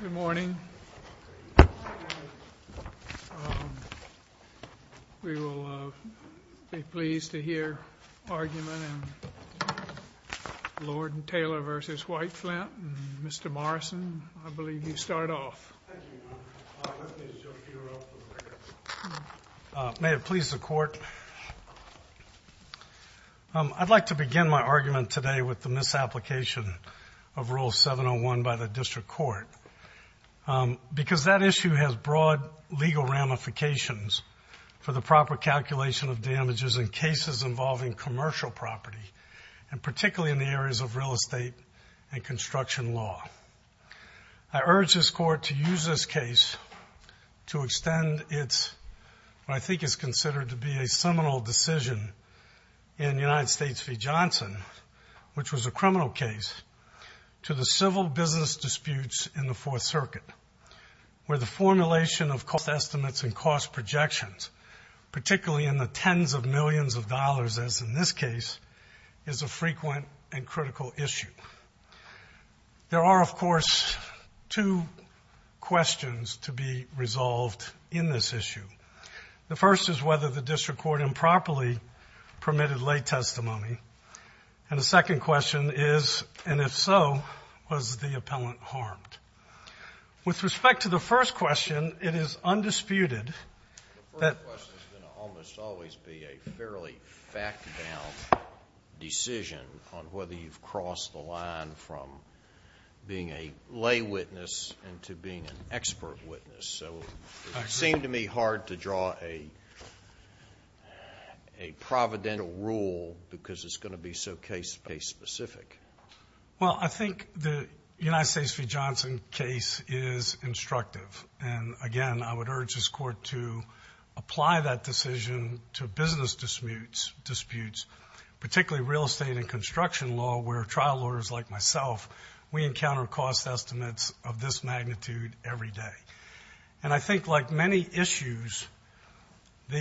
Good morning. We will be pleased to hear argument in Lord & Taylor v. White Flint. Mr. Morrison, I believe you start off. May it please the Court, I'd like to begin my argument today with the misapplication of Rule 701 by the District Court because that issue has broad legal ramifications for the proper calculation of damages in cases involving commercial property and particularly in the areas of real estate and construction law. I urge this Court to use this case to extend what I think is considered to be a seminal decision in United States v. Johnson, which was a criminal case, to the civil business disputes in the Fourth Circuit where the formulation of cost estimates and cost projections, particularly in the tens of millions of dollars as in this case, is a frequent and critical issue. There are, of course, two questions to be resolved in this issue. The first is whether the District Court improperly permitted lay testimony, and the second question is, and if so, was the appellant harmed? With respect to the first question, it is undisputed that… …on whether you've crossed the line from being a lay witness into being an expert witness, so it seemed to me hard to draw a providential rule because it's going to be so case-specific. Well, I think the United States v. Johnson case is instructive, and again, I would urge this Court to apply that decision to business disputes, particularly real estate and construction law where trial lawyers like myself, we encounter cost estimates of this magnitude every day. And I think like many issues, the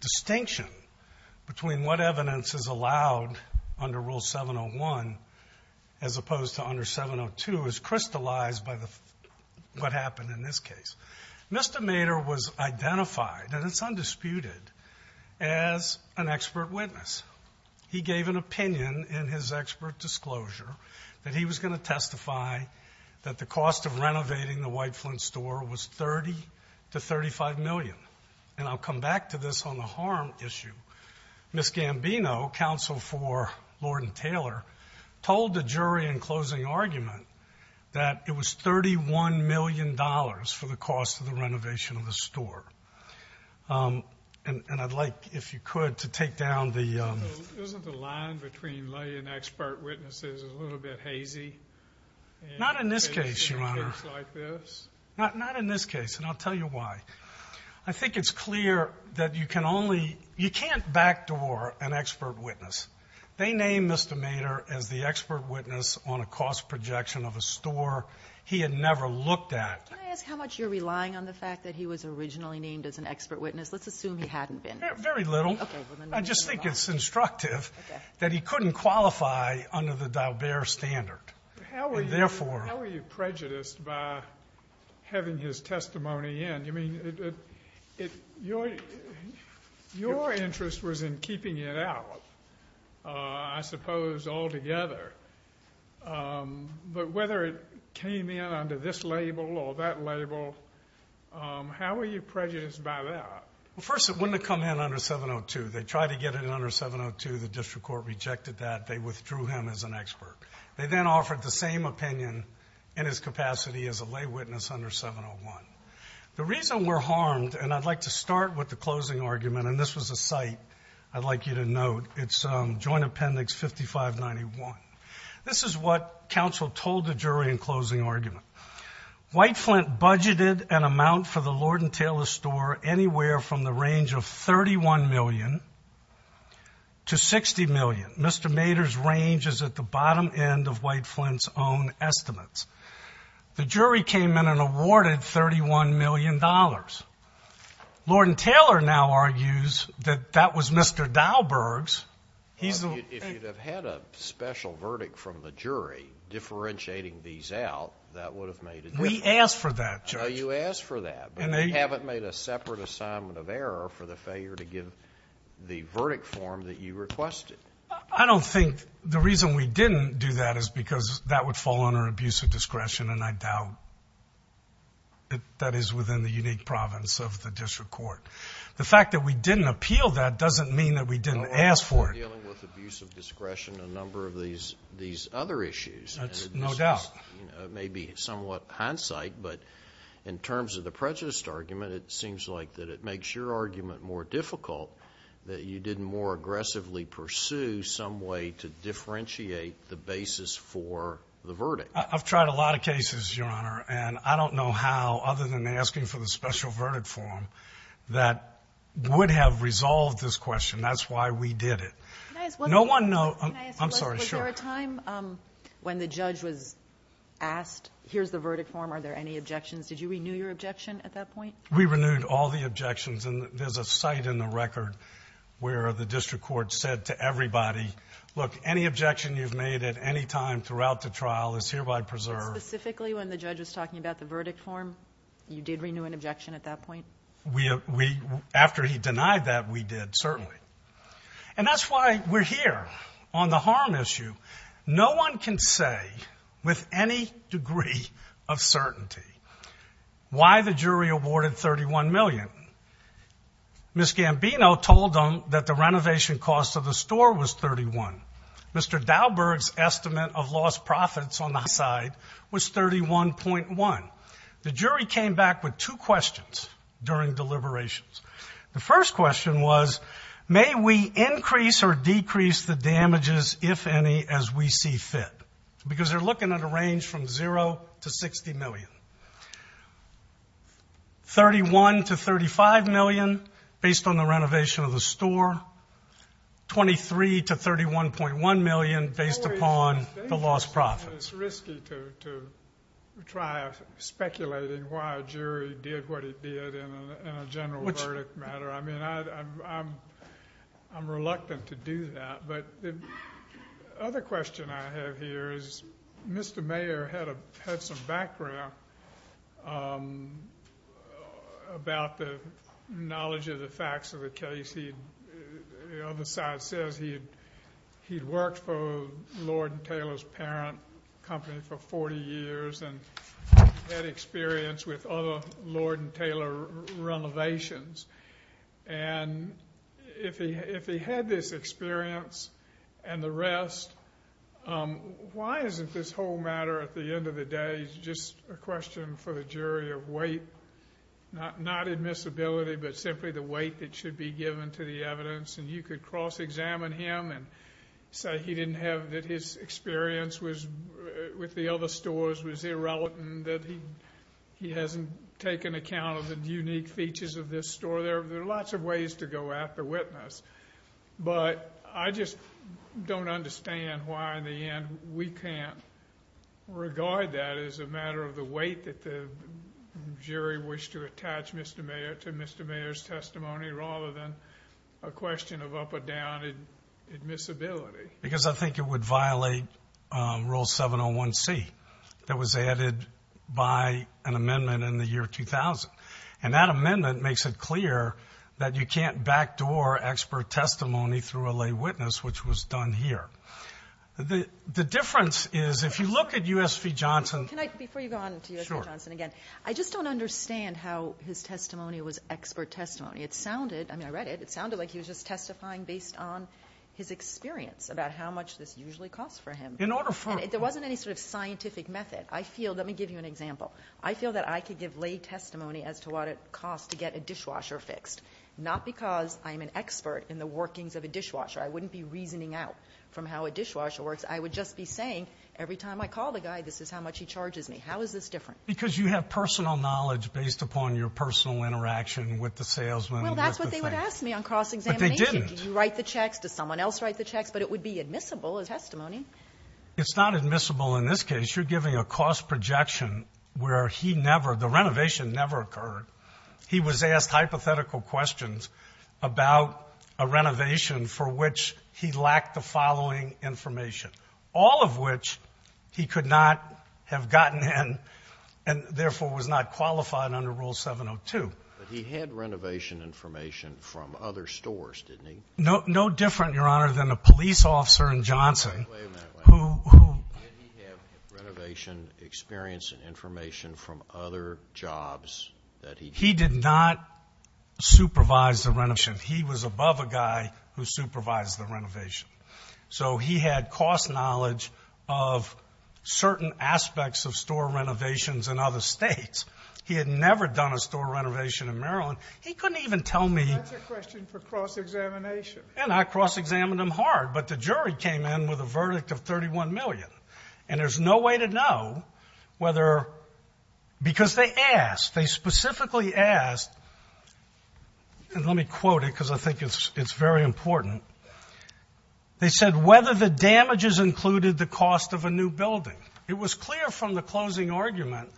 distinction between what evidence is allowed under Rule 701 as opposed to under 702 is crystallized by what happened in this case. Mr. Mader was identified, and it's undisputed, as an expert witness. He gave an opinion in his expert disclosure that he was going to testify that the cost of renovating the White Flint store was $30 to $35 million, and I'll come back to this on the harm issue. Ms. Gambino, counsel for Lord & Taylor, told the jury in closing argument that it was $31 million for the cost of the renovation of the store. And I'd like, if you could, to take down the… Isn't the line between lay and expert witnesses a little bit hazy? Not in this case, Your Honor. In a case like this? Not in this case, and I'll tell you why. I think it's clear that you can only, you can't backdoor an expert witness. They named Mr. Mader as the expert witness on a cost projection of a store he had never looked at. Can I ask how much you're relying on the fact that he was originally named as an expert witness? Let's assume he hadn't been. Very little. I just think it's instructive that he couldn't qualify under the Daubert standard. How were you prejudiced by having his testimony in? Your interest was in keeping it out, I suppose, altogether. But whether it came in under this label or that label, how were you prejudiced by that? First, it wouldn't have come in under 702. They tried to get it under 702. The district court rejected that. They withdrew him as an expert. They then offered the same opinion in his capacity as a lay witness under 701. The reason we're harmed, and I'd like to start with the closing argument, and this was a site I'd like you to note, it's Joint Appendix 5591. This is what counsel told the jury in closing argument. Whiteflint budgeted an amount for the Lord & Taylor store anywhere from the range of $31 million to $60 million. Mr. Mader's range is at the bottom end of Whiteflint's own estimates. The jury came in and awarded $31 million. Lord & Taylor now argues that that was Mr. Daubert's. If you'd have had a special verdict from the jury differentiating these out, that would have made a difference. We asked for that, Judge. You asked for that, but you haven't made a separate assignment of error for the failure to give the verdict form that you requested. I don't think the reason we didn't do that is because that would fall under abusive discretion, and I doubt that that is within the unique province of the district court. The fact that we didn't appeal that doesn't mean that we didn't ask for it. You're dealing with abusive discretion on a number of these other issues. That's no doubt. It may be somewhat hindsight, but in terms of the prejudiced argument, it seems like that it makes your argument more difficult that you didn't more aggressively pursue some way to differentiate the basis for the verdict. I've tried a lot of cases, Your Honor, and I don't know how, other than asking for the special verdict form, that would have resolved this question. That's why we did it. Was there a time when the judge was asked, here's the verdict form, are there any objections? Did you renew your objection at that point? We renewed all the objections, and there's a site in the record where the district court said to everybody, look, any objection you've made at any time throughout the trial is hereby preserved. Specifically when the judge was talking about the verdict form, you did renew an objection at that point? After he denied that, we did, certainly. And that's why we're here on the harm issue. No one can say with any degree of certainty why the jury awarded $31 million. Ms. Gambino told them that the renovation cost of the store was $31. Mr. Dauberg's estimate of lost profits on the side was $31.1. The jury came back with two questions during deliberations. The first question was, may we increase or decrease the damages, if any, as we see fit? Because they're looking at a range from $0 to $60 million. $31 to $35 million based on the renovation of the store. $23 to $31.1 million based upon the lost profits. It's risky to try speculating why a jury did what it did in a general verdict matter. I mean, I'm reluctant to do that. But the other question I have here is Mr. Mayer had some background about the knowledge of the facts of the case. The other side says he'd worked for Lord & Taylor's parent company for 40 years and had experience with other Lord & Taylor renovations. And if he had this experience and the rest, why isn't this whole matter at the end of the day just a question for the jury of weight, not admissibility, but simply the weight that should be given to the evidence. And you could cross-examine him and say he didn't have, that his experience with the other stores was irrelevant, that he hasn't taken account of the unique features of this store. There are lots of ways to go after witness. But I just don't understand why in the end we can't regard that as a matter of the weight that the jury wished to attach Mr. Mayer to Mr. Mayer's testimony rather than a question of up or down admissibility. Because I think it would violate Rule 701C that was added by an amendment in the year 2000. And that amendment makes it clear that you can't backdoor expert testimony through a lay witness, which was done here. The difference is if you look at U.S. v. Johnson. Before you go on to U.S. v. Johnson again, I just don't understand how his testimony was expert testimony. It sounded, I mean I read it, it sounded like he was just testifying based on his experience about how much this usually costs for him. There wasn't any sort of scientific method. Let me give you an example. I feel that I could give lay testimony as to what it costs to get a dishwasher fixed. Not because I'm an expert in the workings of a dishwasher. I wouldn't be reasoning out from how a dishwasher works. I would just be saying every time I call the guy, this is how much he charges me. How is this different? Because you have personal knowledge based upon your personal interaction with the salesman. Well, that's what they would ask me on cross-examination. But they didn't. Do you write the checks? Does someone else write the checks? But it would be admissible as testimony. It's not admissible in this case. You're giving a cost projection where he never, the renovation never occurred. He was asked hypothetical questions about a renovation for which he lacked the following information, all of which he could not have gotten in and, therefore, was not qualified under Rule 702. But he had renovation information from other stores, didn't he? No different, Your Honor, than a police officer in Johnson. Wait a minute. Who? Did he have renovation experience and information from other jobs that he did? He did not supervise the renovation. He was above a guy who supervised the renovation. So he had cost knowledge of certain aspects of store renovations in other states. He had never done a store renovation in Maryland. He couldn't even tell me. That's a question for cross-examination. And I cross-examined him hard. But the jury came in with a verdict of $31 million. And there's no way to know whether, because they asked. They specifically asked, and let me quote it because I think it's very important. They said, whether the damages included the cost of a new building. It was clear from the closing argument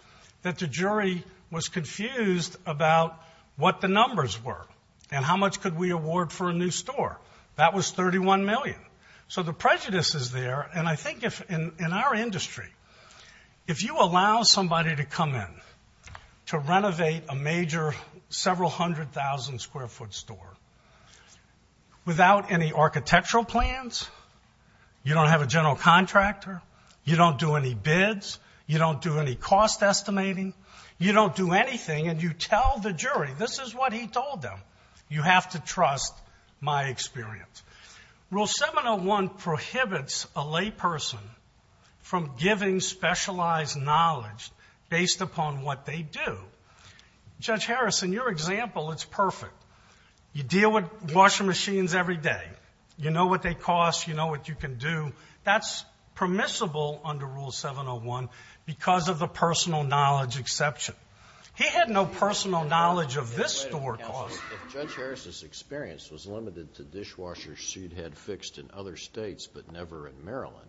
that the jury was confused about what the numbers were and how much could we award for a new store. That was $31 million. So the prejudice is there, and I think in our industry, if you allow somebody to come in to renovate a major several hundred thousand square foot store without any architectural plans, you don't have a general contractor, you don't do any bids, you don't do any cost estimating, you don't do anything, and you tell the jury, this is what he told them, you have to trust my experience. Rule 701 prohibits a layperson from giving specialized knowledge based upon what they do. Judge Harrison, your example, it's perfect. You deal with washing machines every day. You know what they cost. You know what you can do. That's permissible under Rule 701 because of the personal knowledge exception. He had no personal knowledge of this store cost. Judge Harrison's experience was limited to dishwashers she'd had fixed in other states but never in Maryland.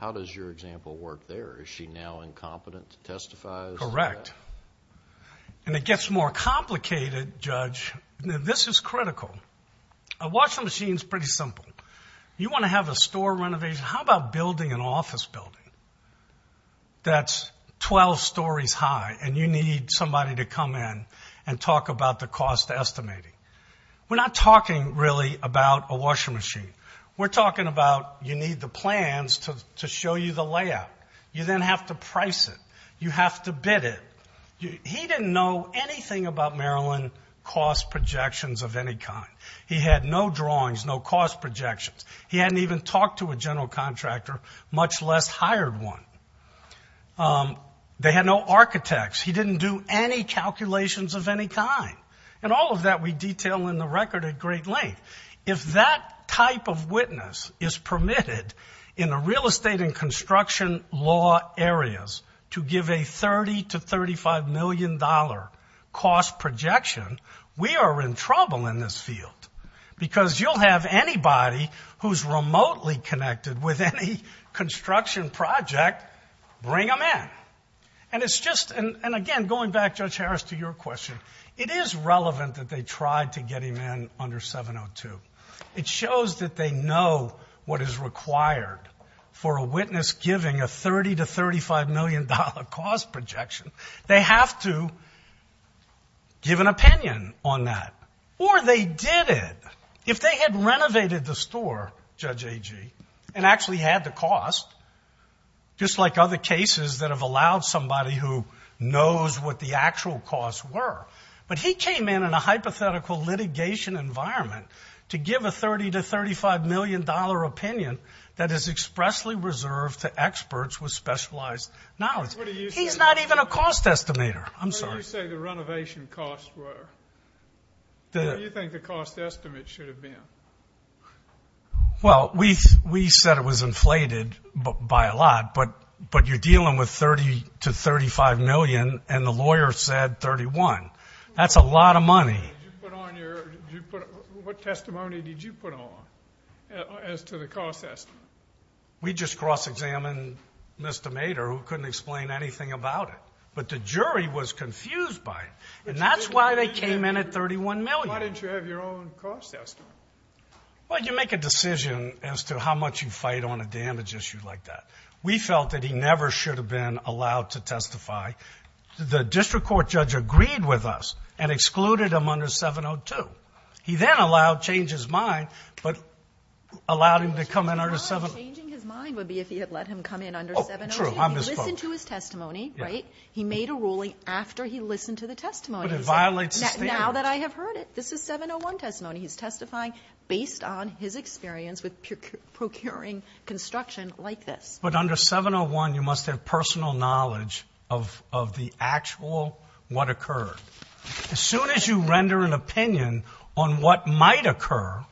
How does your example work there? Is she now incompetent to testify? Correct. And it gets more complicated, Judge. This is critical. A washing machine is pretty simple. You want to have a store renovation, how about building an office building that's 12 stories high and you need somebody to come in and talk about the cost estimating? We're not talking really about a washing machine. We're talking about you need the plans to show you the layout. You then have to price it. You have to bid it. He didn't know anything about Maryland cost projections of any kind. He had no drawings, no cost projections. He hadn't even talked to a general contractor, much less hired one. They had no architects. He didn't do any calculations of any kind. And all of that we detail in the record at great length. If that type of witness is permitted in the real estate and construction law areas to give a $30 to $35 million cost projection, we are in trouble in this field because you'll have anybody who's remotely connected with any construction project bring them in. And it's just, and again, going back, Judge Harris, to your question, it is relevant that they tried to get him in under 702. It shows that they know what is required for a witness giving a $30 to $35 million cost projection. They have to give an opinion on that. Or they did it. If they had renovated the store, Judge Agee, and actually had the cost, just like other cases that have allowed somebody who knows what the actual costs were, but he came in in a hypothetical litigation environment to give a $30 to $35 million opinion that is expressly reserved to experts with specialized knowledge. He's not even a cost estimator. I'm sorry. You say the renovation costs were. What do you think the cost estimate should have been? Well, we said it was inflated by a lot, but you're dealing with $30 to $35 million, and the lawyer said $31. That's a lot of money. What testimony did you put on as to the cost estimate? We just cross-examined Mr. Mader, who couldn't explain anything about it. But the jury was confused by it, and that's why they came in at $31 million. Why didn't you have your own cost estimate? Well, you make a decision as to how much you fight on a damage issue like that. We felt that he never should have been allowed to testify. The district court judge agreed with us and excluded him under 702. He then allowed, changed his mind, but allowed him to come in under 702. Changing his mind would be if he had let him come in under 702. He listened to his testimony, right? He made a ruling after he listened to the testimony. But it violates the standards. Now that I have heard it. This is 701 testimony. He's testifying based on his experience with procuring construction like this. But under 701, you must have personal knowledge of the actual what occurred. As soon as you render an opinion on what might occur,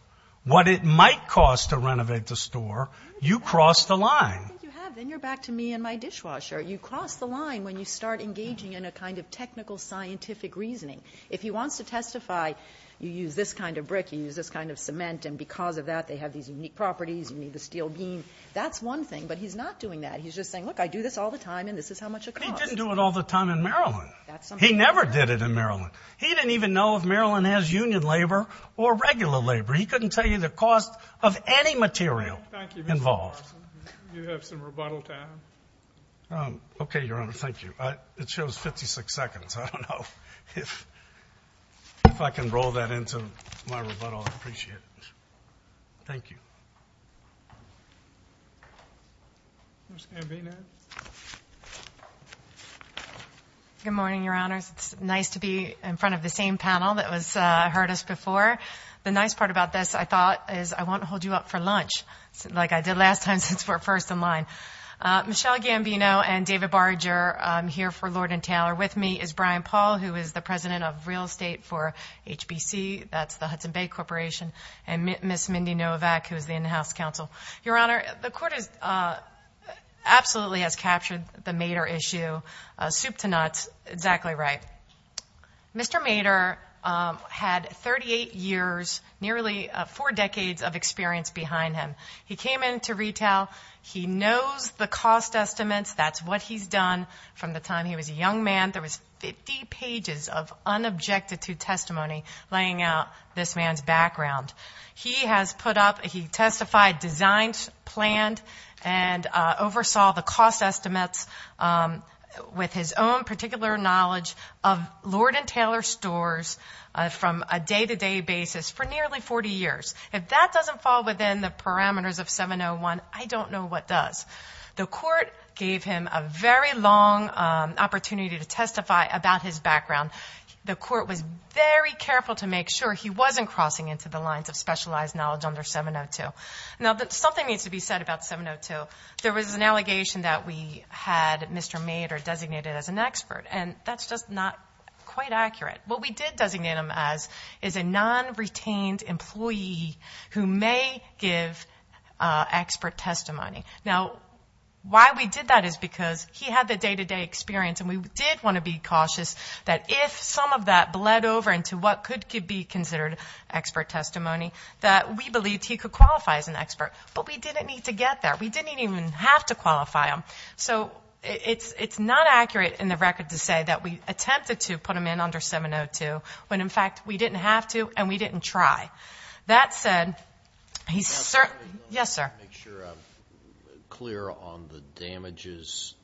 what it might cost to renovate the store, you cross the line. I think you have. Then you're back to me and my dishwasher. You cross the line when you start engaging in a kind of technical scientific reasoning. If he wants to testify, you use this kind of brick, you use this kind of cement, and because of that they have these unique properties, you need the steel beam. That's one thing. But he's not doing that. He's just saying, look, I do this all the time and this is how much it costs. But he didn't do it all the time in Maryland. He never did it in Maryland. He didn't even know if Maryland has union labor or regular labor. He couldn't tell you the cost of any material involved. You have some rebuttal time. Okay, Your Honor. Thank you. It shows 56 seconds. I don't know if I can roll that into my rebuttal. I appreciate it. Thank you. Good morning, Your Honors. It's nice to be in front of the same panel that heard us before. The nice part about this, I thought, is I won't hold you up for lunch. Like I did last time since we're first in line. Michelle Gambino and David Barger, I'm here for Lord & Taylor. With me is Brian Paul, who is the President of Real Estate for HBC. That's the Hudson Bay Corporation. And Ms. Mindy Novak, who is the in-house counsel. Your Honor, the Court absolutely has captured the Mader issue, soup to nuts, exactly right. Mr. Mader had 38 years, nearly four decades of experience behind him. He came into retail. He knows the cost estimates. That's what he's done from the time he was a young man. There was 50 pages of unobjected to testimony laying out this man's background. He has put up, he testified, designed, planned, and oversaw the cost estimates with his own particular knowledge of Lord & Taylor stores from a day-to-day basis for nearly 40 years. If that doesn't fall within the parameters of 701, I don't know what does. The Court gave him a very long opportunity to testify about his background. The Court was very careful to make sure he wasn't crossing into the lines of specialized knowledge under 702. Now, something needs to be said about 702. There was an allegation that we had Mr. Mader designated as an expert, and that's just not quite accurate. What we did designate him as is a non-retained employee who may give expert testimony. Now, why we did that is because he had the day-to-day experience, and we did want to be cautious that if some of that bled over into what could be considered expert testimony, that we believed he could qualify as an expert. But we didn't need to get there. We didn't even have to qualify him. So it's not accurate in the record to say that we attempted to put him in under 702, when, in fact, we didn't have to and we didn't try. That said, he's certainly – yes, sir? Let me make sure I'm clear on the damages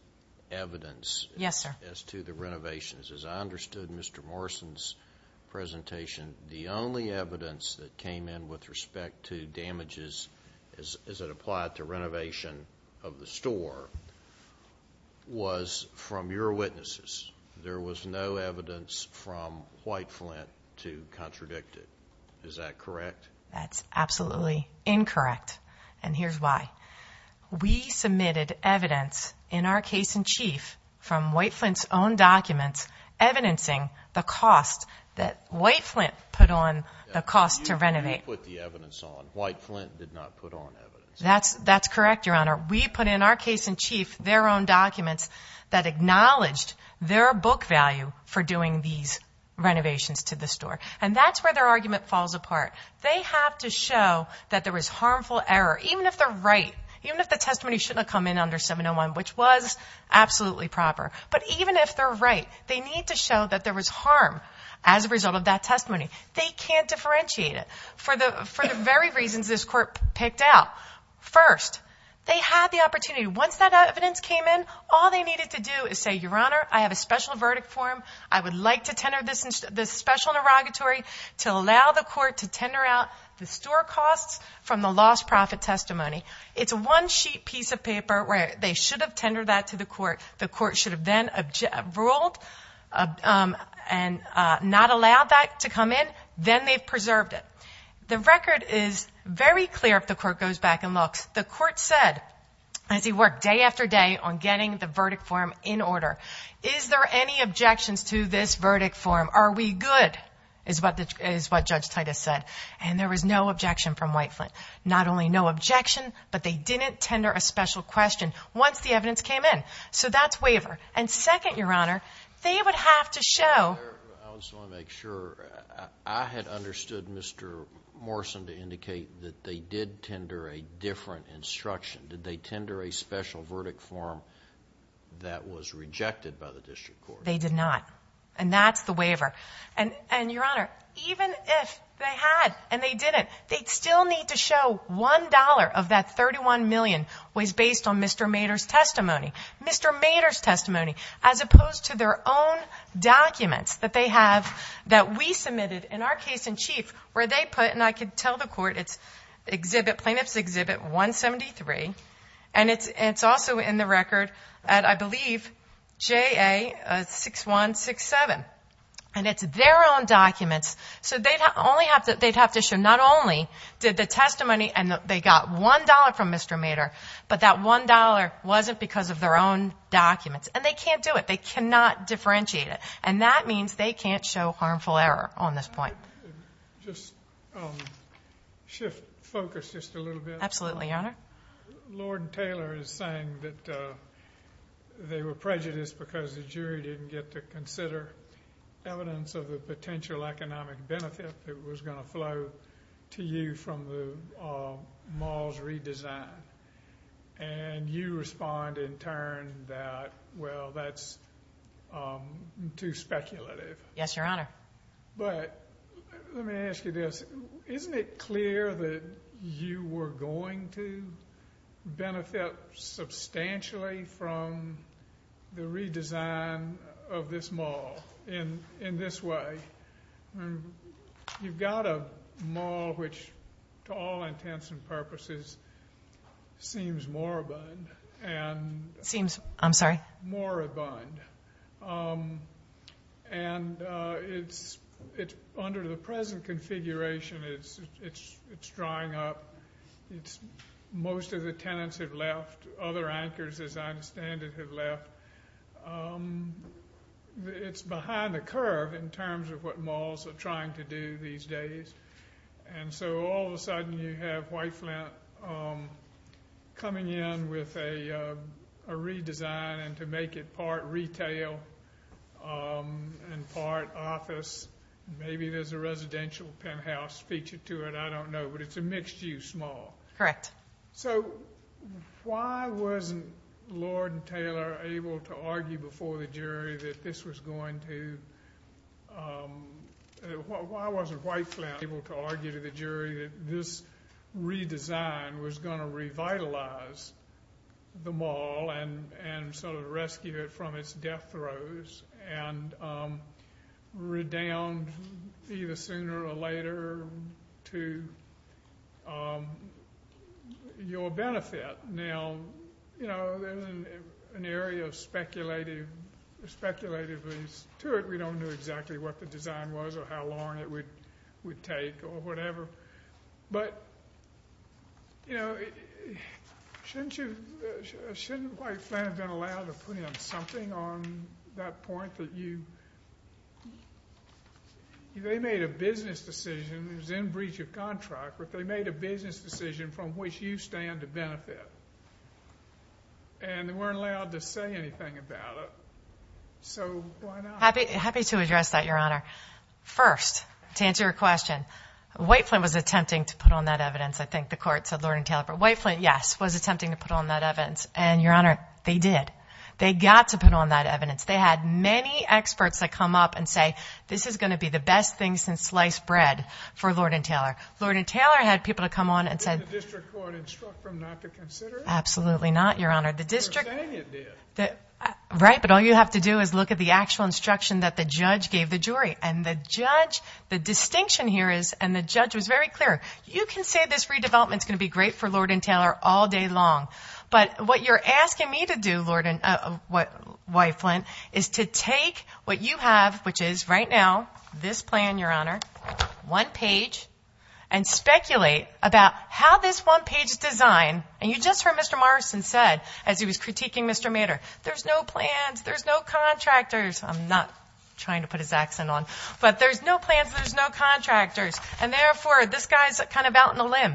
evidence as to the renovations. Yes, sir. As I understood Mr. Morrison's presentation, the only evidence that came in with respect to damages as it applied to renovation of the store was from your witnesses. There was no evidence from White Flint to contradict it. Is that correct? That's absolutely incorrect, and here's why. We submitted evidence in our case in chief from White Flint's own documents evidencing the cost that White Flint put on the cost to renovate. You put the evidence on. White Flint did not put on evidence. That's correct, Your Honor. We put in our case in chief their own documents that acknowledged their book value for doing these renovations to the store. And that's where their argument falls apart. They have to show that there was harmful error, even if they're right, even if the testimony shouldn't have come in under 701, which was absolutely proper. But even if they're right, they need to show that there was harm as a result of that testimony. They can't differentiate it for the very reasons this Court picked out. First, they had the opportunity. Once that evidence came in, all they needed to do is say, Your Honor, I have a special verdict for him. I would like to tender this special inauguratory to allow the Court to tender out the store costs from the lost profit testimony. It's a one-sheet piece of paper where they should have tendered that to the Court. The Court should have then ruled and not allowed that to come in. Then they've preserved it. The record is very clear if the Court goes back and looks. The Court said, as he worked day after day on getting the verdict form in order, Is there any objections to this verdict form? Are we good, is what Judge Titus said. And there was no objection from Whiteflint. Not only no objection, but they didn't tender a special question once the evidence came in. So that's waiver. And second, Your Honor, they would have to show I just want to make sure. I had understood Mr. Morrison to indicate that they did tender a different instruction. Did they tender a special verdict form that was rejected by the District Court? They did not. And that's the waiver. And, Your Honor, even if they had and they didn't, they'd still need to show $1 of that $31 million was based on Mr. Mater's testimony. Mr. Mater's testimony. As opposed to their own documents that they have that we submitted in our case in chief where they put, and I can tell the Court, it's Plaintiff's Exhibit 173. And it's also in the record at, I believe, JA 6167. And it's their own documents. So they'd have to show not only did the testimony and they got $1 from Mr. Mater, but that $1 wasn't because of their own documents. And they can't do it. They cannot differentiate it. And that means they can't show harmful error on this point. Can I just shift focus just a little bit? Absolutely, Your Honor. Lord and Taylor is saying that they were prejudiced because the jury didn't get to consider evidence of a potential economic benefit that was going to flow to you from the mall's redesign. And you respond in turn that, well, that's too speculative. Yes, Your Honor. But let me ask you this. Isn't it clear that you were going to benefit substantially from the redesign of this mall in this way? You've got a mall which, to all intents and purposes, seems more abundant. Seems, I'm sorry? More abundant. And under the present configuration, it's drawing up. Most of the tenants have left. Other anchors, as I understand it, have left. It's behind the curve in terms of what malls are trying to do these days. And so all of a sudden you have White Flint coming in with a redesign and to make it part retail and part office. Maybe there's a residential penthouse featured to it. I don't know. But it's a mixed-use mall. Correct. So why wasn't Lord and Taylor able to argue before the jury that this was going to— why wasn't White Flint able to argue to the jury that this redesign was going to revitalize the mall and sort of rescue it from its death throes and redound either sooner or later to your benefit? Now, you know, there's an area of speculative ease to it. We don't know exactly what the design was or how long it would take or whatever. But, you know, shouldn't White Flint have been allowed to put in something on that point that you— they made a business decision. It was in breach of contract. But they made a business decision from which you stand to benefit. And they weren't allowed to say anything about it. So why not? Happy to address that, Your Honor. First, to answer your question, White Flint was attempting to put on that evidence. I think the court said Lord and Taylor. But White Flint, yes, was attempting to put on that evidence. And, Your Honor, they did. They got to put on that evidence. They had many experts that come up and say, this is going to be the best thing since sliced bread for Lord and Taylor. Lord and Taylor had people that come on and said— Did the district court instruct them not to consider it? Absolutely not, Your Honor. The district— They were saying it did. Right, but all you have to do is look at the actual instruction that the judge gave the jury. And the judge—the distinction here is—and the judge was very clear. You can say this redevelopment is going to be great for Lord and Taylor all day long. But what you're asking me to do, White Flint, is to take what you have, which is right now this plan, Your Honor, one page, and speculate about how this one page design— there's no plans, there's no contractors. I'm not trying to put his accent on. But there's no plans, there's no contractors. And therefore, this guy's kind of out on a limb.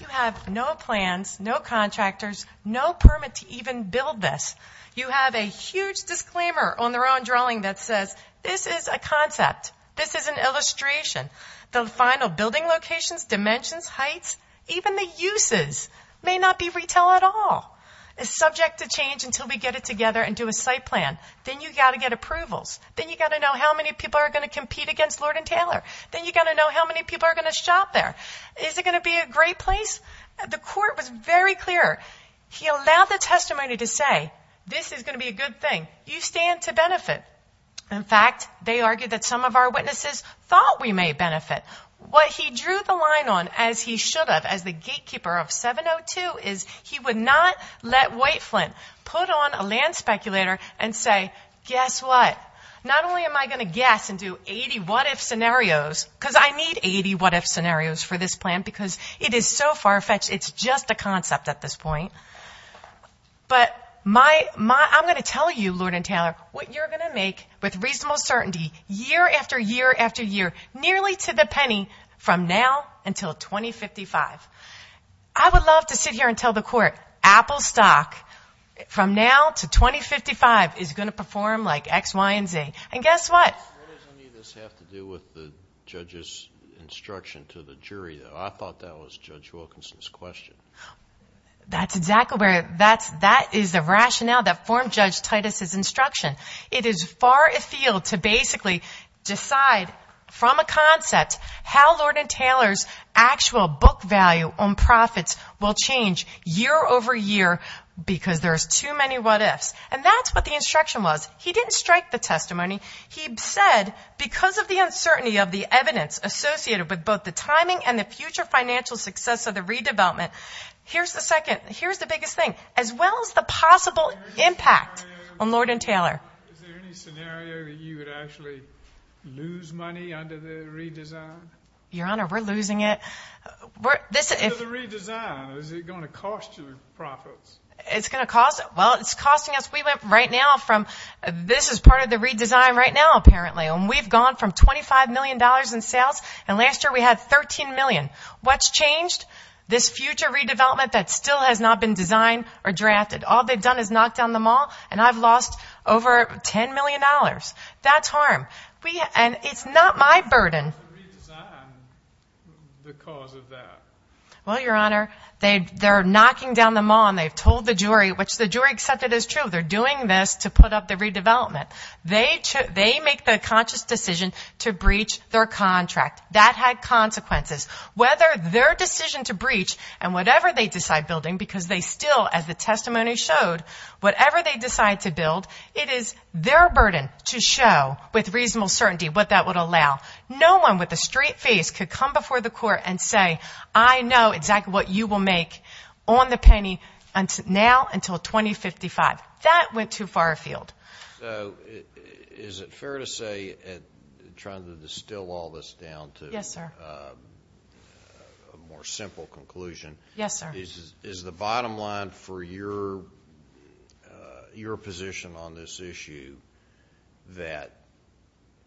You have no plans, no contractors, no permit to even build this. You have a huge disclaimer on their own drawing that says, this is a concept. This is an illustration. The final building locations, dimensions, heights, even the uses may not be retail at all. It's subject to change until we get it together and do a site plan. Then you've got to get approvals. Then you've got to know how many people are going to compete against Lord and Taylor. Then you've got to know how many people are going to shop there. Is it going to be a great place? The court was very clear. He allowed the testimony to say, this is going to be a good thing. You stand to benefit. In fact, they argued that some of our witnesses thought we may benefit. What he drew the line on, as he should have, as the gatekeeper of 702, is he would not let White Flint put on a land speculator and say, guess what? Not only am I going to guess and do 80 what-if scenarios, because I need 80 what-if scenarios for this plan because it is so far-fetched. It's just a concept at this point. But I'm going to tell you, Lord and Taylor, what you're going to make with reasonable certainty year after year after year, nearly to the penny, from now until 2055. I would love to sit here and tell the court, Apple stock from now to 2055 is going to perform like X, Y, and Z. And guess what? Does any of this have to do with the judge's instruction to the jury? I thought that was Judge Wilkinson's question. That's exactly where it is. That is the rationale that formed Judge Titus's instruction. It is far afield to basically decide from a concept how Lord and Taylor's actual book value on profits will change year over year because there's too many what-ifs. And that's what the instruction was. He didn't strike the testimony. He said because of the uncertainty of the evidence associated with both the timing and the future financial success of the redevelopment, here's the biggest thing, as well as the possible impact on Lord and Taylor. Is there any scenario that you would actually lose money under the redesign? Your Honor, we're losing it. Under the redesign, is it going to cost you profits? It's going to cost us. We went right now from this is part of the redesign right now, apparently, and we've gone from $25 million in sales, and last year we had $13 million. What's changed? This future redevelopment that still has not been designed or drafted. All they've done is knock down the mall, and I've lost over $10 million. That's harm. And it's not my burden. How do you redesign the cause of that? Well, Your Honor, they're knocking down the mall, and they've told the jury, which the jury accepted as true, they're doing this to put up the redevelopment. They make the conscious decision to breach their contract. That had consequences. Whether their decision to breach and whatever they decide building, because they still, as the testimony showed, whatever they decide to build, it is their burden to show with reasonable certainty what that would allow. No one with a straight face could come before the court and say, I know exactly what you will make on the penny now until 2055. That went too far afield. So is it fair to say, trying to distill all this down to a more simple conclusion, is the bottom line for your position on this issue that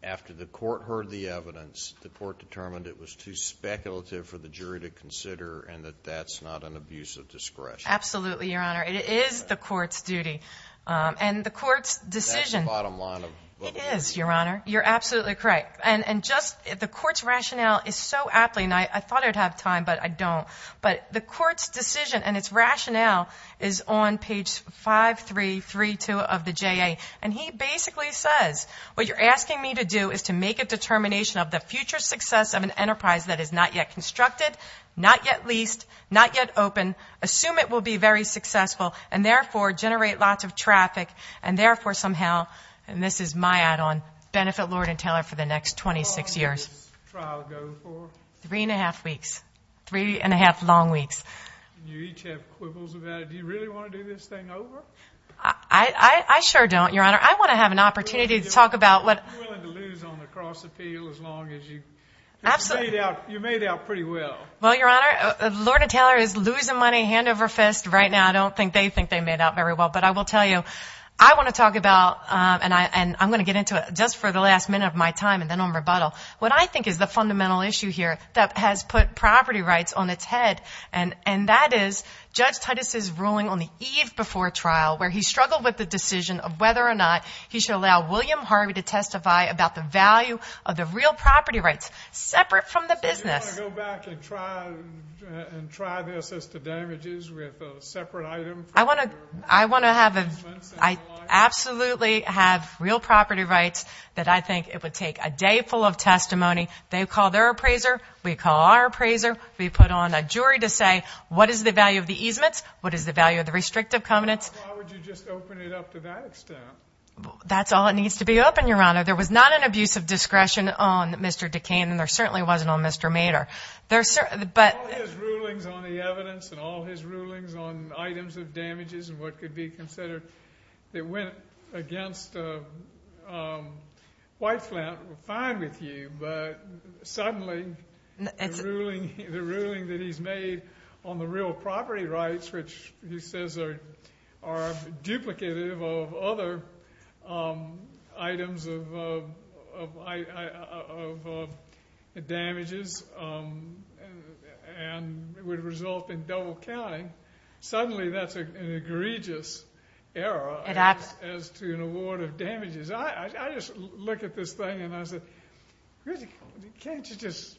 after the court heard the evidence, the court determined it was too speculative for the jury to consider and that that's not an abuse of discretion? Absolutely, Your Honor. It is the court's duty. And the court's decision. That's the bottom line of both of these. It is, Your Honor. You're absolutely correct. And just the court's rationale is so aptly, and I thought I'd have time, but I don't. But the court's decision and its rationale is on page 5332 of the JA. And he basically says, What you're asking me to do is to make a determination of the future success of an enterprise that is not yet constructed, not yet leased, not yet open, assume it will be very successful, and therefore generate lots of traffic, and therefore somehow, and this is my add-on, benefit Lord and Taylor for the next 26 years. How long does this trial go for? Three and a half weeks. Three and a half long weeks. You each have quibbles about it. Do you really want to do this thing over? I sure don't, Your Honor. I want to have an opportunity to talk about what. You're willing to lose on the cross appeal as long as you made out pretty well. Well, Your Honor, Lord and Taylor is losing money hand over fist right now. I don't think they think they made out very well. But I will tell you, I want to talk about, and I'm going to get into it just for the last minute of my time and then I'll rebuttal. What I think is the fundamental issue here that has put property rights on its head, and that is Judge Titus's ruling on the eve before trial where he struggled with the decision of whether or not he should allow William Harvey to testify about the value of the real property rights, separate from the business. Do you want to go back and try this as the damages with a separate item? I want to have a, I absolutely have real property rights that I think it would take a day full of testimony. They call their appraiser. We call our appraiser. We put on a jury to say what is the value of the easements? What is the value of the restrictive covenants? Why would you just open it up to that extent? That's all it needs to be open, Your Honor. There was not an abuse of discretion on Mr. Duquesne and there certainly wasn't on Mr. Mader. All his rulings on the evidence and all his rulings on items of damages and what could be considered that went against Whiteflint were fine with you, but suddenly the ruling that he's made on the real property rights, which he says are duplicative of other items of damages and would result in double counting, suddenly that's an egregious error as to an award of damages. I just look at this thing and I say, can't you just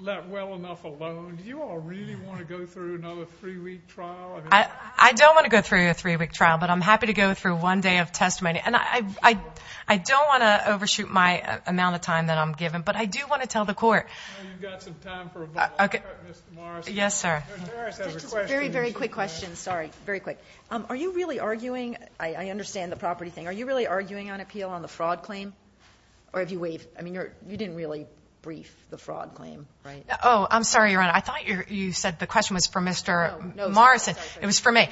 let well enough alone? Do you all really want to go through another three-week trial? I don't want to go through a three-week trial, but I'm happy to go through one day of testimony. And I don't want to overshoot my amount of time that I'm given, but I do want to tell the court. You've got some time for a bubble. Yes, sir. Very, very quick question. Sorry. Very quick. Are you really arguing? I understand the property thing. Are you really arguing on appeal on the fraud claim? Or have you waived? I mean, you didn't really brief the fraud claim, right? Oh, I'm sorry, Your Honor. I thought you said the question was for Mr. Morrison. It was for me.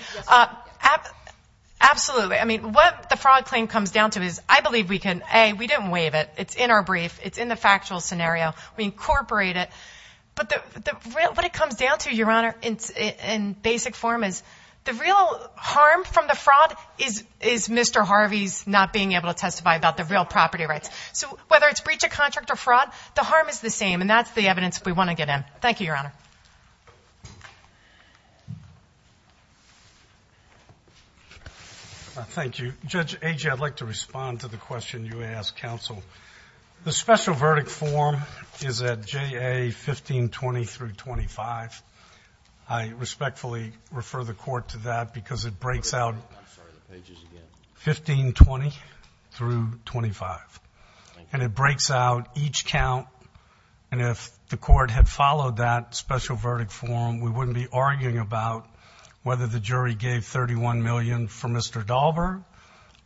Absolutely. I mean, what the fraud claim comes down to is I believe we can, A, we didn't waive it. It's in our brief. It's in the factual scenario. We incorporate it. But what it comes down to, Your Honor, in basic form is the real harm from the fraud is Mr. Harvey's not being able to testify about the real property rights. So whether it's breach of contract or fraud, the harm is the same, and that's the evidence we want to get in. Thank you, Your Honor. Thank you. Judge Agee, I'd like to respond to the question you asked counsel. The special verdict form is at JA 1520-25. I respectfully refer the court to that because it breaks out 1520-25. And it breaks out each count. And if the court had followed that special verdict form, we wouldn't be arguing about whether the jury gave $31 million for Mr. Dahlberg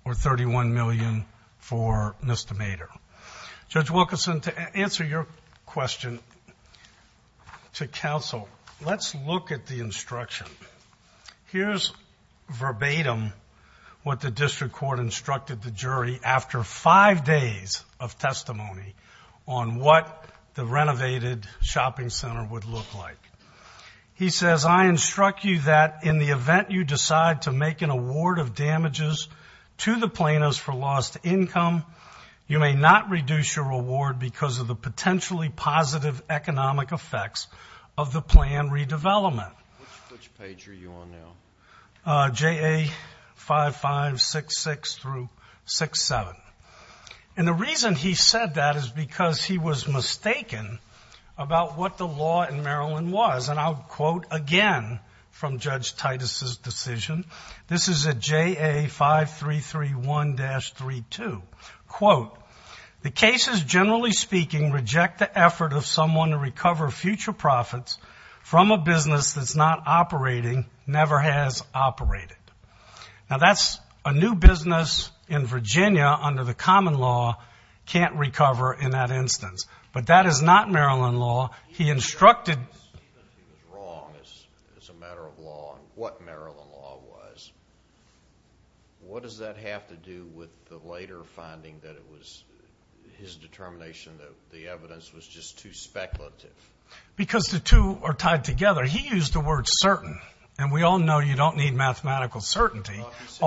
or $31 million for Mr. Mader. Judge Wilkerson, to answer your question to counsel, let's look at the instruction. Here's verbatim what the district court instructed the jury after five days of testimony on what the renovated shopping center would look like. He says, I instruct you that in the event you decide to make an award of damages to the plaintiffs for lost income, you may not reduce your award because of the potentially positive economic effects of the plan redevelopment. Which page are you on now? JA 5566-67. And the reason he said that is because he was mistaken about what the law in Maryland was. And I'll quote again from Judge Titus' decision. This is at JA 5331-32. Quote, the cases, generally speaking, reject the effort of someone to recover future profits from a business that's not operating, never has operated. Now, that's a new business in Virginia under the common law can't recover in that instance. But that is not Maryland law. He instructed as a matter of law what Maryland law was. What does that have to do with the later finding that it was his determination that the evidence was just too speculative? Because the two are tied together. He used the word certain. And we all know you don't need mathematical certainty. He said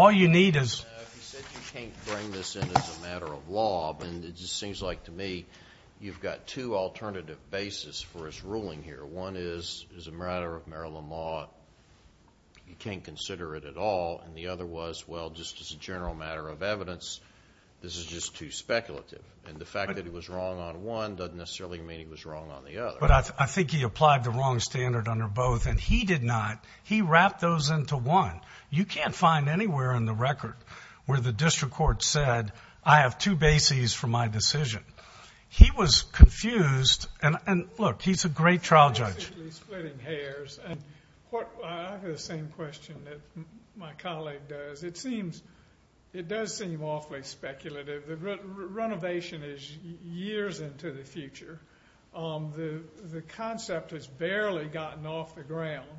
you can't bring this in as a matter of law. And it just seems like to me you've got two alternative bases for his ruling here. One is, as a matter of Maryland law, you can't consider it at all. And the other was, well, just as a general matter of evidence, this is just too speculative. And the fact that he was wrong on one doesn't necessarily mean he was wrong on the other. But I think he applied the wrong standard under both. And he did not. He wrapped those into one. You can't find anywhere in the record where the district court said, I have two bases for my decision. He was confused. And, look, he's a great trial judge. Basically splitting hairs. I have the same question that my colleague does. It does seem awfully speculative. Renovation is years into the future. The concept has barely gotten off the ground.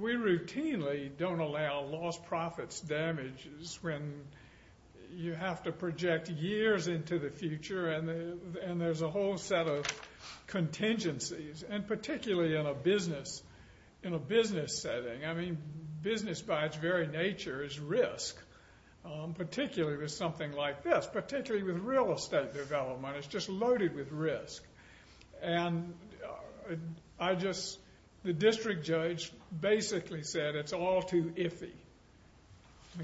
We routinely don't allow lost profits damages when you have to project years into the future. And there's a whole set of contingencies. And particularly in a business setting. I mean, business by its very nature is risk. Particularly with something like this. Particularly with real estate development. It's just loaded with risk. And I just, the district judge basically said it's all too iffy.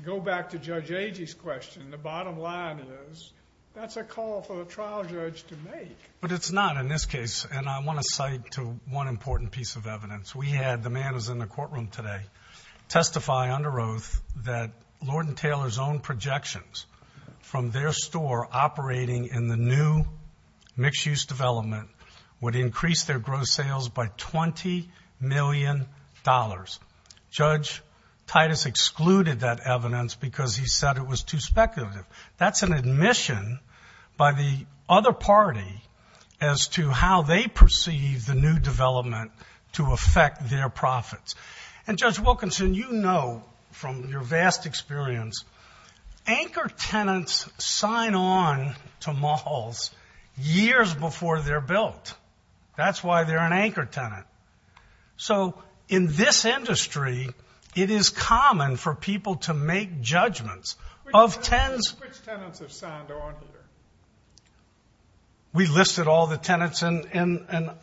Go back to Judge Agee's question. The bottom line is, that's a call for a trial judge to make. But it's not in this case. And I want to cite to one important piece of evidence. We had the man who's in the courtroom today testify under oath that Lord and Taylor's own projections from their store operating in the new mixed-use development would increase their gross sales by $20 million. Judge Titus excluded that evidence because he said it was too speculative. That's an admission by the other party as to how they perceive the new development to affect their profits. And Judge Wilkinson, you know from your vast experience, anchor tenants sign on to malls years before they're built. That's why they're an anchor tenant. So, in this industry, it is common for people to make judgments. Which tenants have signed on? We listed all the tenants, and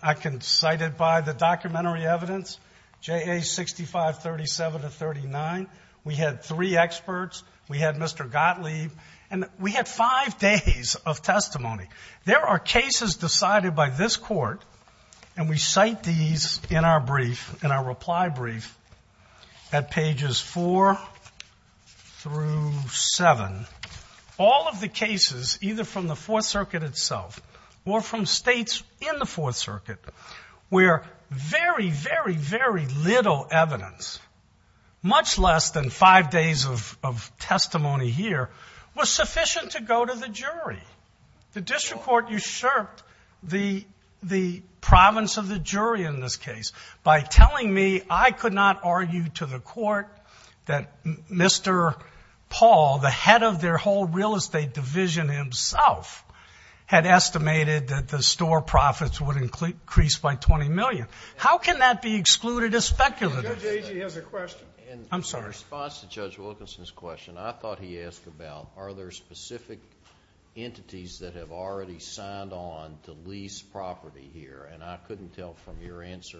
I can cite it by the documentary evidence, J.A. 6537-39. We had three experts. We had Mr. Gottlieb. And we had five days of testimony. There are cases decided by this Court, and we cite these in our brief, in our reply brief, at pages 4 through 7. All of the cases, either from the Fourth Circuit itself or from states in the Fourth Circuit, where very, very, very little evidence, much less than five days of testimony here, was sufficient to go to the jury. The district court usurped the province of the jury in this case by telling me I could not argue to the court that Mr. Paul, the head of their whole real estate division himself, had estimated that the store profits would increase by $20 million. How can that be excluded as speculative? Judge Agee has a question. I'm sorry. In response to Judge Wilkinson's question, I thought he asked about, are there specific entities that have already signed on to lease property here? And I couldn't tell from your answer,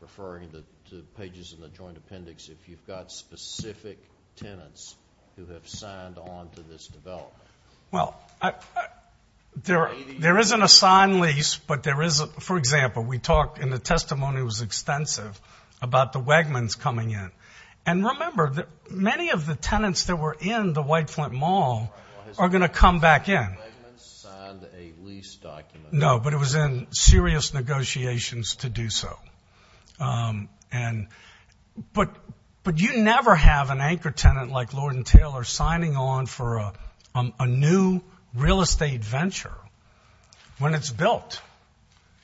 referring to the pages in the joint appendix, if you've got specific tenants who have signed on to this development. Well, there isn't a signed lease, but there is a, for example, we talked, and the testimony was extensive, about the Wegmans coming in. And remember, many of the tenants that were in the White Flint Mall are going to come back in. The Wegmans signed a lease document. No, but it was in serious negotiations to do so. But you never have an anchor tenant like Lord & Taylor signing on for a new real estate venture when it's built.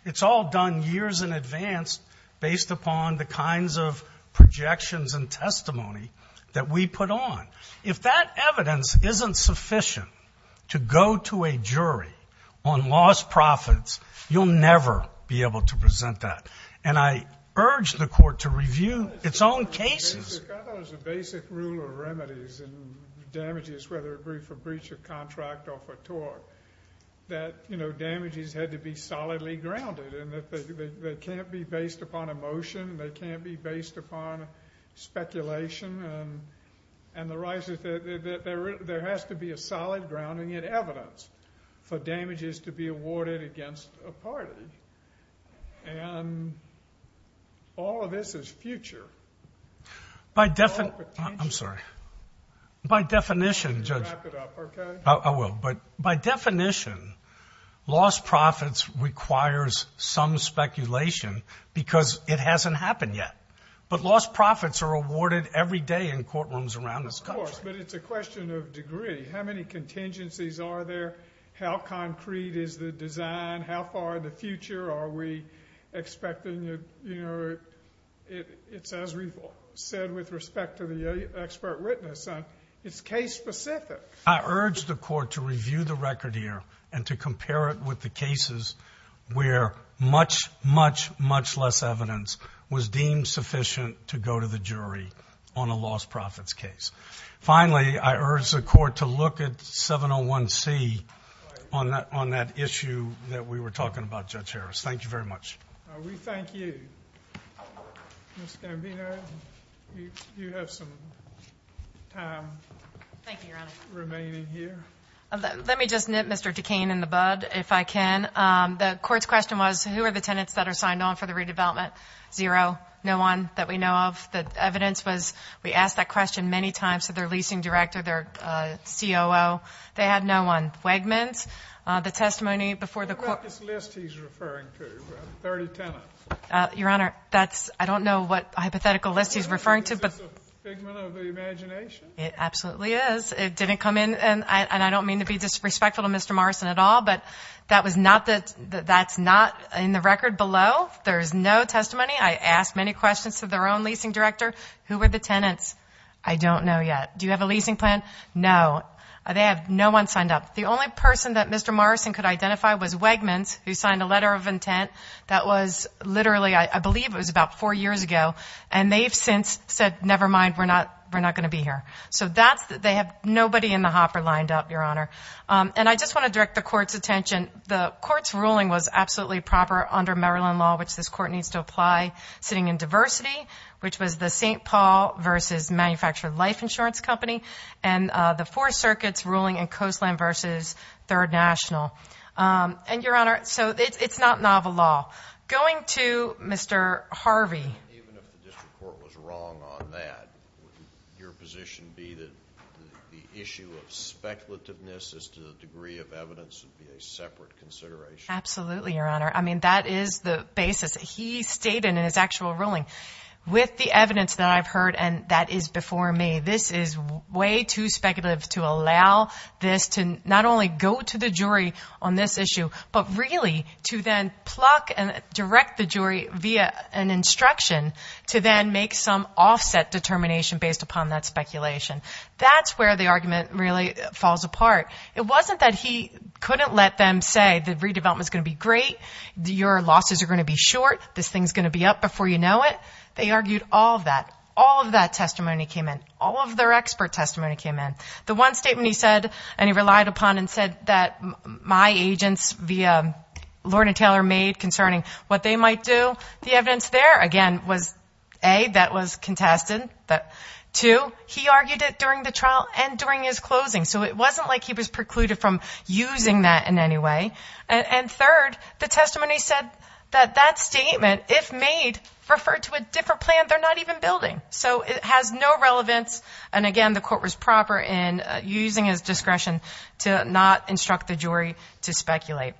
It's all done years in advance based upon the kinds of projections and testimony that we put on. If that evidence isn't sufficient to go to a jury on lost profits, you'll never be able to present that. And I urge the Court to review its own cases. I thought it was a basic rule of remedies in damages, whether it be for breach of contract or for tort, that, you know, damages had to be solidly grounded and that they can't be based upon emotion, they can't be based upon speculation. And there has to be a solid grounding in evidence for damages to be awarded against a party. And all of this is future. By definition, I'm sorry. By definition, Judge. Wrap it up, okay? I will. But by definition, lost profits requires some speculation because it hasn't happened yet. But lost profits are awarded every day in courtrooms around this country. Of course, but it's a question of degree. How many contingencies are there? How concrete is the design? How far in the future are we expecting, you know, it's as we've said with respect to the expert witness. It's case specific. I urge the court to review the record here and to compare it with the cases where much, much, much less evidence was deemed sufficient to go to the jury on a lost profits case. Finally, I urge the court to look at 701C on that issue that we were talking about, Judge Harris. Thank you very much. We thank you. Ms. Gambino, you have some time. Thank you, Your Honor. Remaining here. Let me just nip Mr. Decane in the bud, if I can. The court's question was who are the tenants that are signed on for the redevelopment? Zero. No one that we know of. The evidence was we asked that question many times to their leasing director, their COO. They had no one. Wegmans, the testimony before the court. What about this list he's referring to, 30 tenants? Your Honor, that's, I don't know what hypothetical list he's referring to. Is this a figment of the imagination? It absolutely is. It didn't come in, and I don't mean to be disrespectful to Mr. Morrison at all, but that's not in the record below. There's no testimony. I asked many questions to their own leasing director. Who are the tenants? I don't know yet. Do you have a leasing plan? No. They have no one signed up. The only person that Mr. Morrison could identify was Wegmans, who signed a letter of intent. That was literally, I believe it was about four years ago, and they've since said, never mind, we're not going to be here. They have nobody in the hopper lined up, Your Honor. I just want to direct the court's attention. The court's ruling was absolutely proper under Maryland law, which this court needs to apply, sitting in diversity, which was the St. Paul versus Manufactured Life Insurance Company, and the Four Circuits ruling in Coastland versus Third National. Your Honor, it's not novel law. Going to Mr. Harvey. Even if the district court was wrong on that, would your position be that the issue of speculativeness as to the degree of evidence would be a separate consideration? Absolutely, Your Honor. I mean, that is the basis. He stated in his actual ruling, with the evidence that I've heard, and that is before me, this is way too speculative to allow this to not only go to the jury on this issue, but really to then pluck and direct the jury via an instruction to then make some offset determination based upon that speculation. That's where the argument really falls apart. It wasn't that he couldn't let them say the redevelopment's going to be great, your losses are going to be short, this thing's going to be up before you know it. They argued all of that. All of that testimony came in. All of their expert testimony came in. The one statement he said, and he relied upon and said, that my agents via Lorne and Taylor made concerning what they might do, the evidence there, again, was A, that was contested. Two, he argued it during the trial and during his closing, so it wasn't like he was precluded from using that in any way. And third, the testimony said that that statement, if made, referred to a different plan they're not even building. So it has no relevance, and again, the court was proper in using his discretion to not instruct the jury to speculate.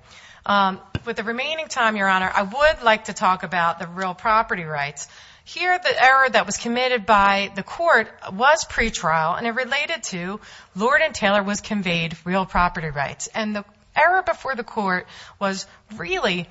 With the remaining time, Your Honor, I would like to talk about the real property rights. Here, the error that was committed by the court was pretrial, and it related to Lorne and Taylor was conveyed real property rights. And the error before the court was really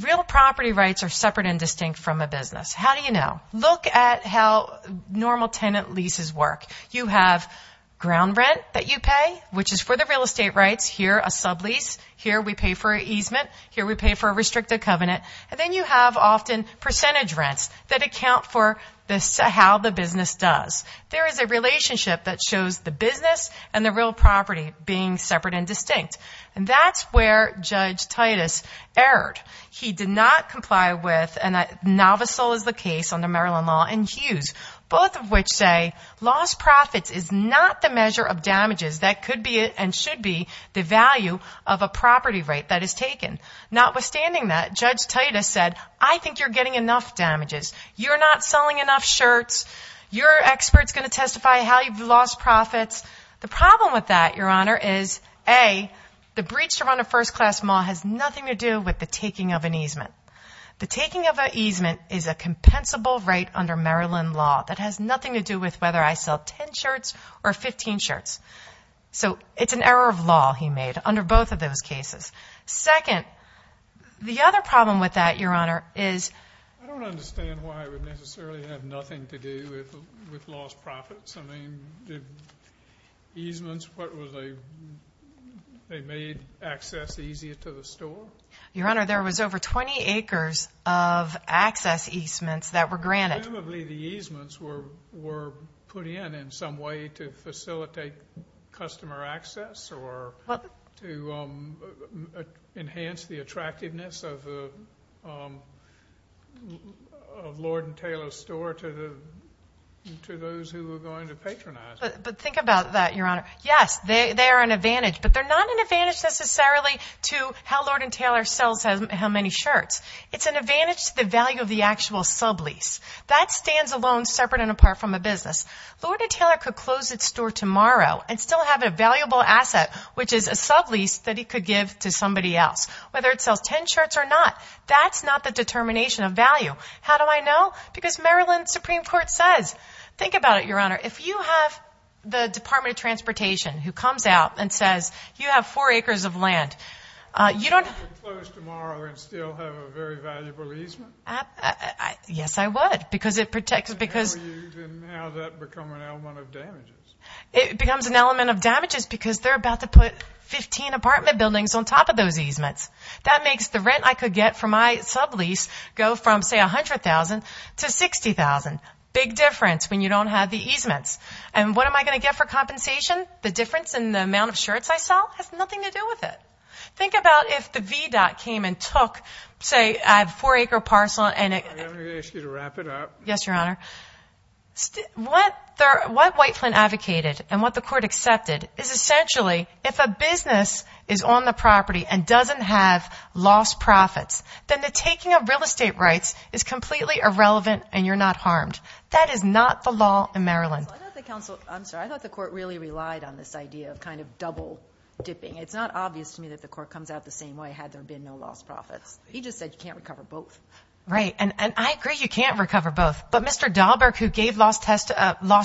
real property rights are separate and distinct from a business. How do you know? Look at how normal tenant leases work. You have ground rent that you pay, which is for the real estate rights. Here, a sublease. Here, we pay for an easement. Here, we pay for a restricted covenant. And then you have often percentage rents that account for how the business does. There is a relationship that shows the business and the real property being separate and distinct. And that's where Judge Titus erred. He did not comply with, and novice sole is the case under Maryland law, and Hughes, both of which say lost profits is not the measure of damages that could be and should be the value of a property right that is taken. Notwithstanding that, Judge Titus said, I think you're getting enough damages. You're not selling enough shirts. Your expert's going to testify how you've lost profits. The problem with that, Your Honor, is, A, the breach to run a first-class mall has nothing to do with the taking of an easement. The taking of an easement is a compensable right under Maryland law that has nothing to do with whether I sell 10 shirts or 15 shirts. So it's an error of law he made under both of those cases. Second, the other problem with that, Your Honor, is, I don't understand why it would necessarily have nothing to do with lost profits. I mean, the easements, what were they? They made access easier to the store? Your Honor, there was over 20 acres of access easements that were granted. Presumably the easements were put in in some way to facilitate customer access or to enhance the attractiveness of Lord & Taylor's store to those who were going to patronize it. But think about that, Your Honor. Yes, they are an advantage, but they're not an advantage necessarily to how Lord & Taylor sells how many shirts. It's an advantage to the value of the actual sublease. That stands alone, separate and apart from the business. Lord & Taylor could close its store tomorrow and still have a valuable asset, which is a sublease that he could give to somebody else, whether it sells 10 shirts or not. That's not the determination of value. How do I know? Because Maryland's Supreme Court says. Think about it, Your Honor. If you have the Department of Transportation who comes out and says, you have 4 acres of land, you don't have to close tomorrow and still have a very valuable easement? Yes, I would because it protects because How does that become an element of damages? It becomes an element of damages because they're about to put 15 apartment buildings on top of those easements. That makes the rent I could get for my sublease go from, say, $100,000 to $60,000. Big difference when you don't have the easements. And what am I going to get for compensation? The difference in the amount of shirts I sell has nothing to do with it. Think about if the VDOT came and took, say, a 4-acre parcel and it May I ask you to wrap it up? Yes, Your Honor. What Whiteflint advocated and what the court accepted is essentially if a business is on the property and doesn't have lost profits, then the taking of real estate rights is completely irrelevant and you're not harmed. That is not the law in Maryland. I'm sorry. I thought the court really relied on this idea of kind of double-dipping. It's not obvious to me that the court comes out the same way had there been no lost profits. He just said you can't recover both. Right. And I agree you can't recover both. But Mr. Dahlberg, who gave lost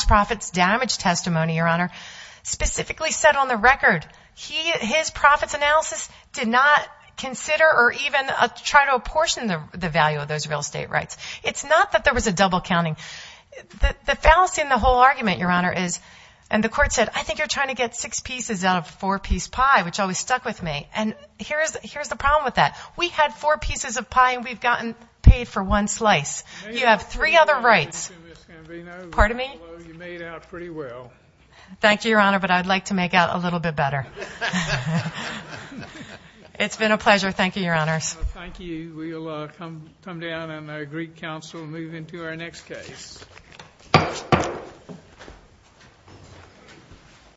profits damage testimony, Your Honor, specifically said on the record his profits analysis did not consider or even try to apportion the value of those real estate rights. It's not that there was a double-counting. The fallacy in the whole argument, Your Honor, is, and the court said, I think you're trying to get six pieces out of a four-piece pie, which always stuck with me. And here's the problem with that. We had four pieces of pie and we've gotten paid for one slice. You have three other rights. Pardon me? You made out pretty well. Thank you, Your Honor, but I'd like to make out a little bit better. It's been a pleasure. Thank you, Your Honors. Thank you. We'll come down and agree counsel and move into our next case.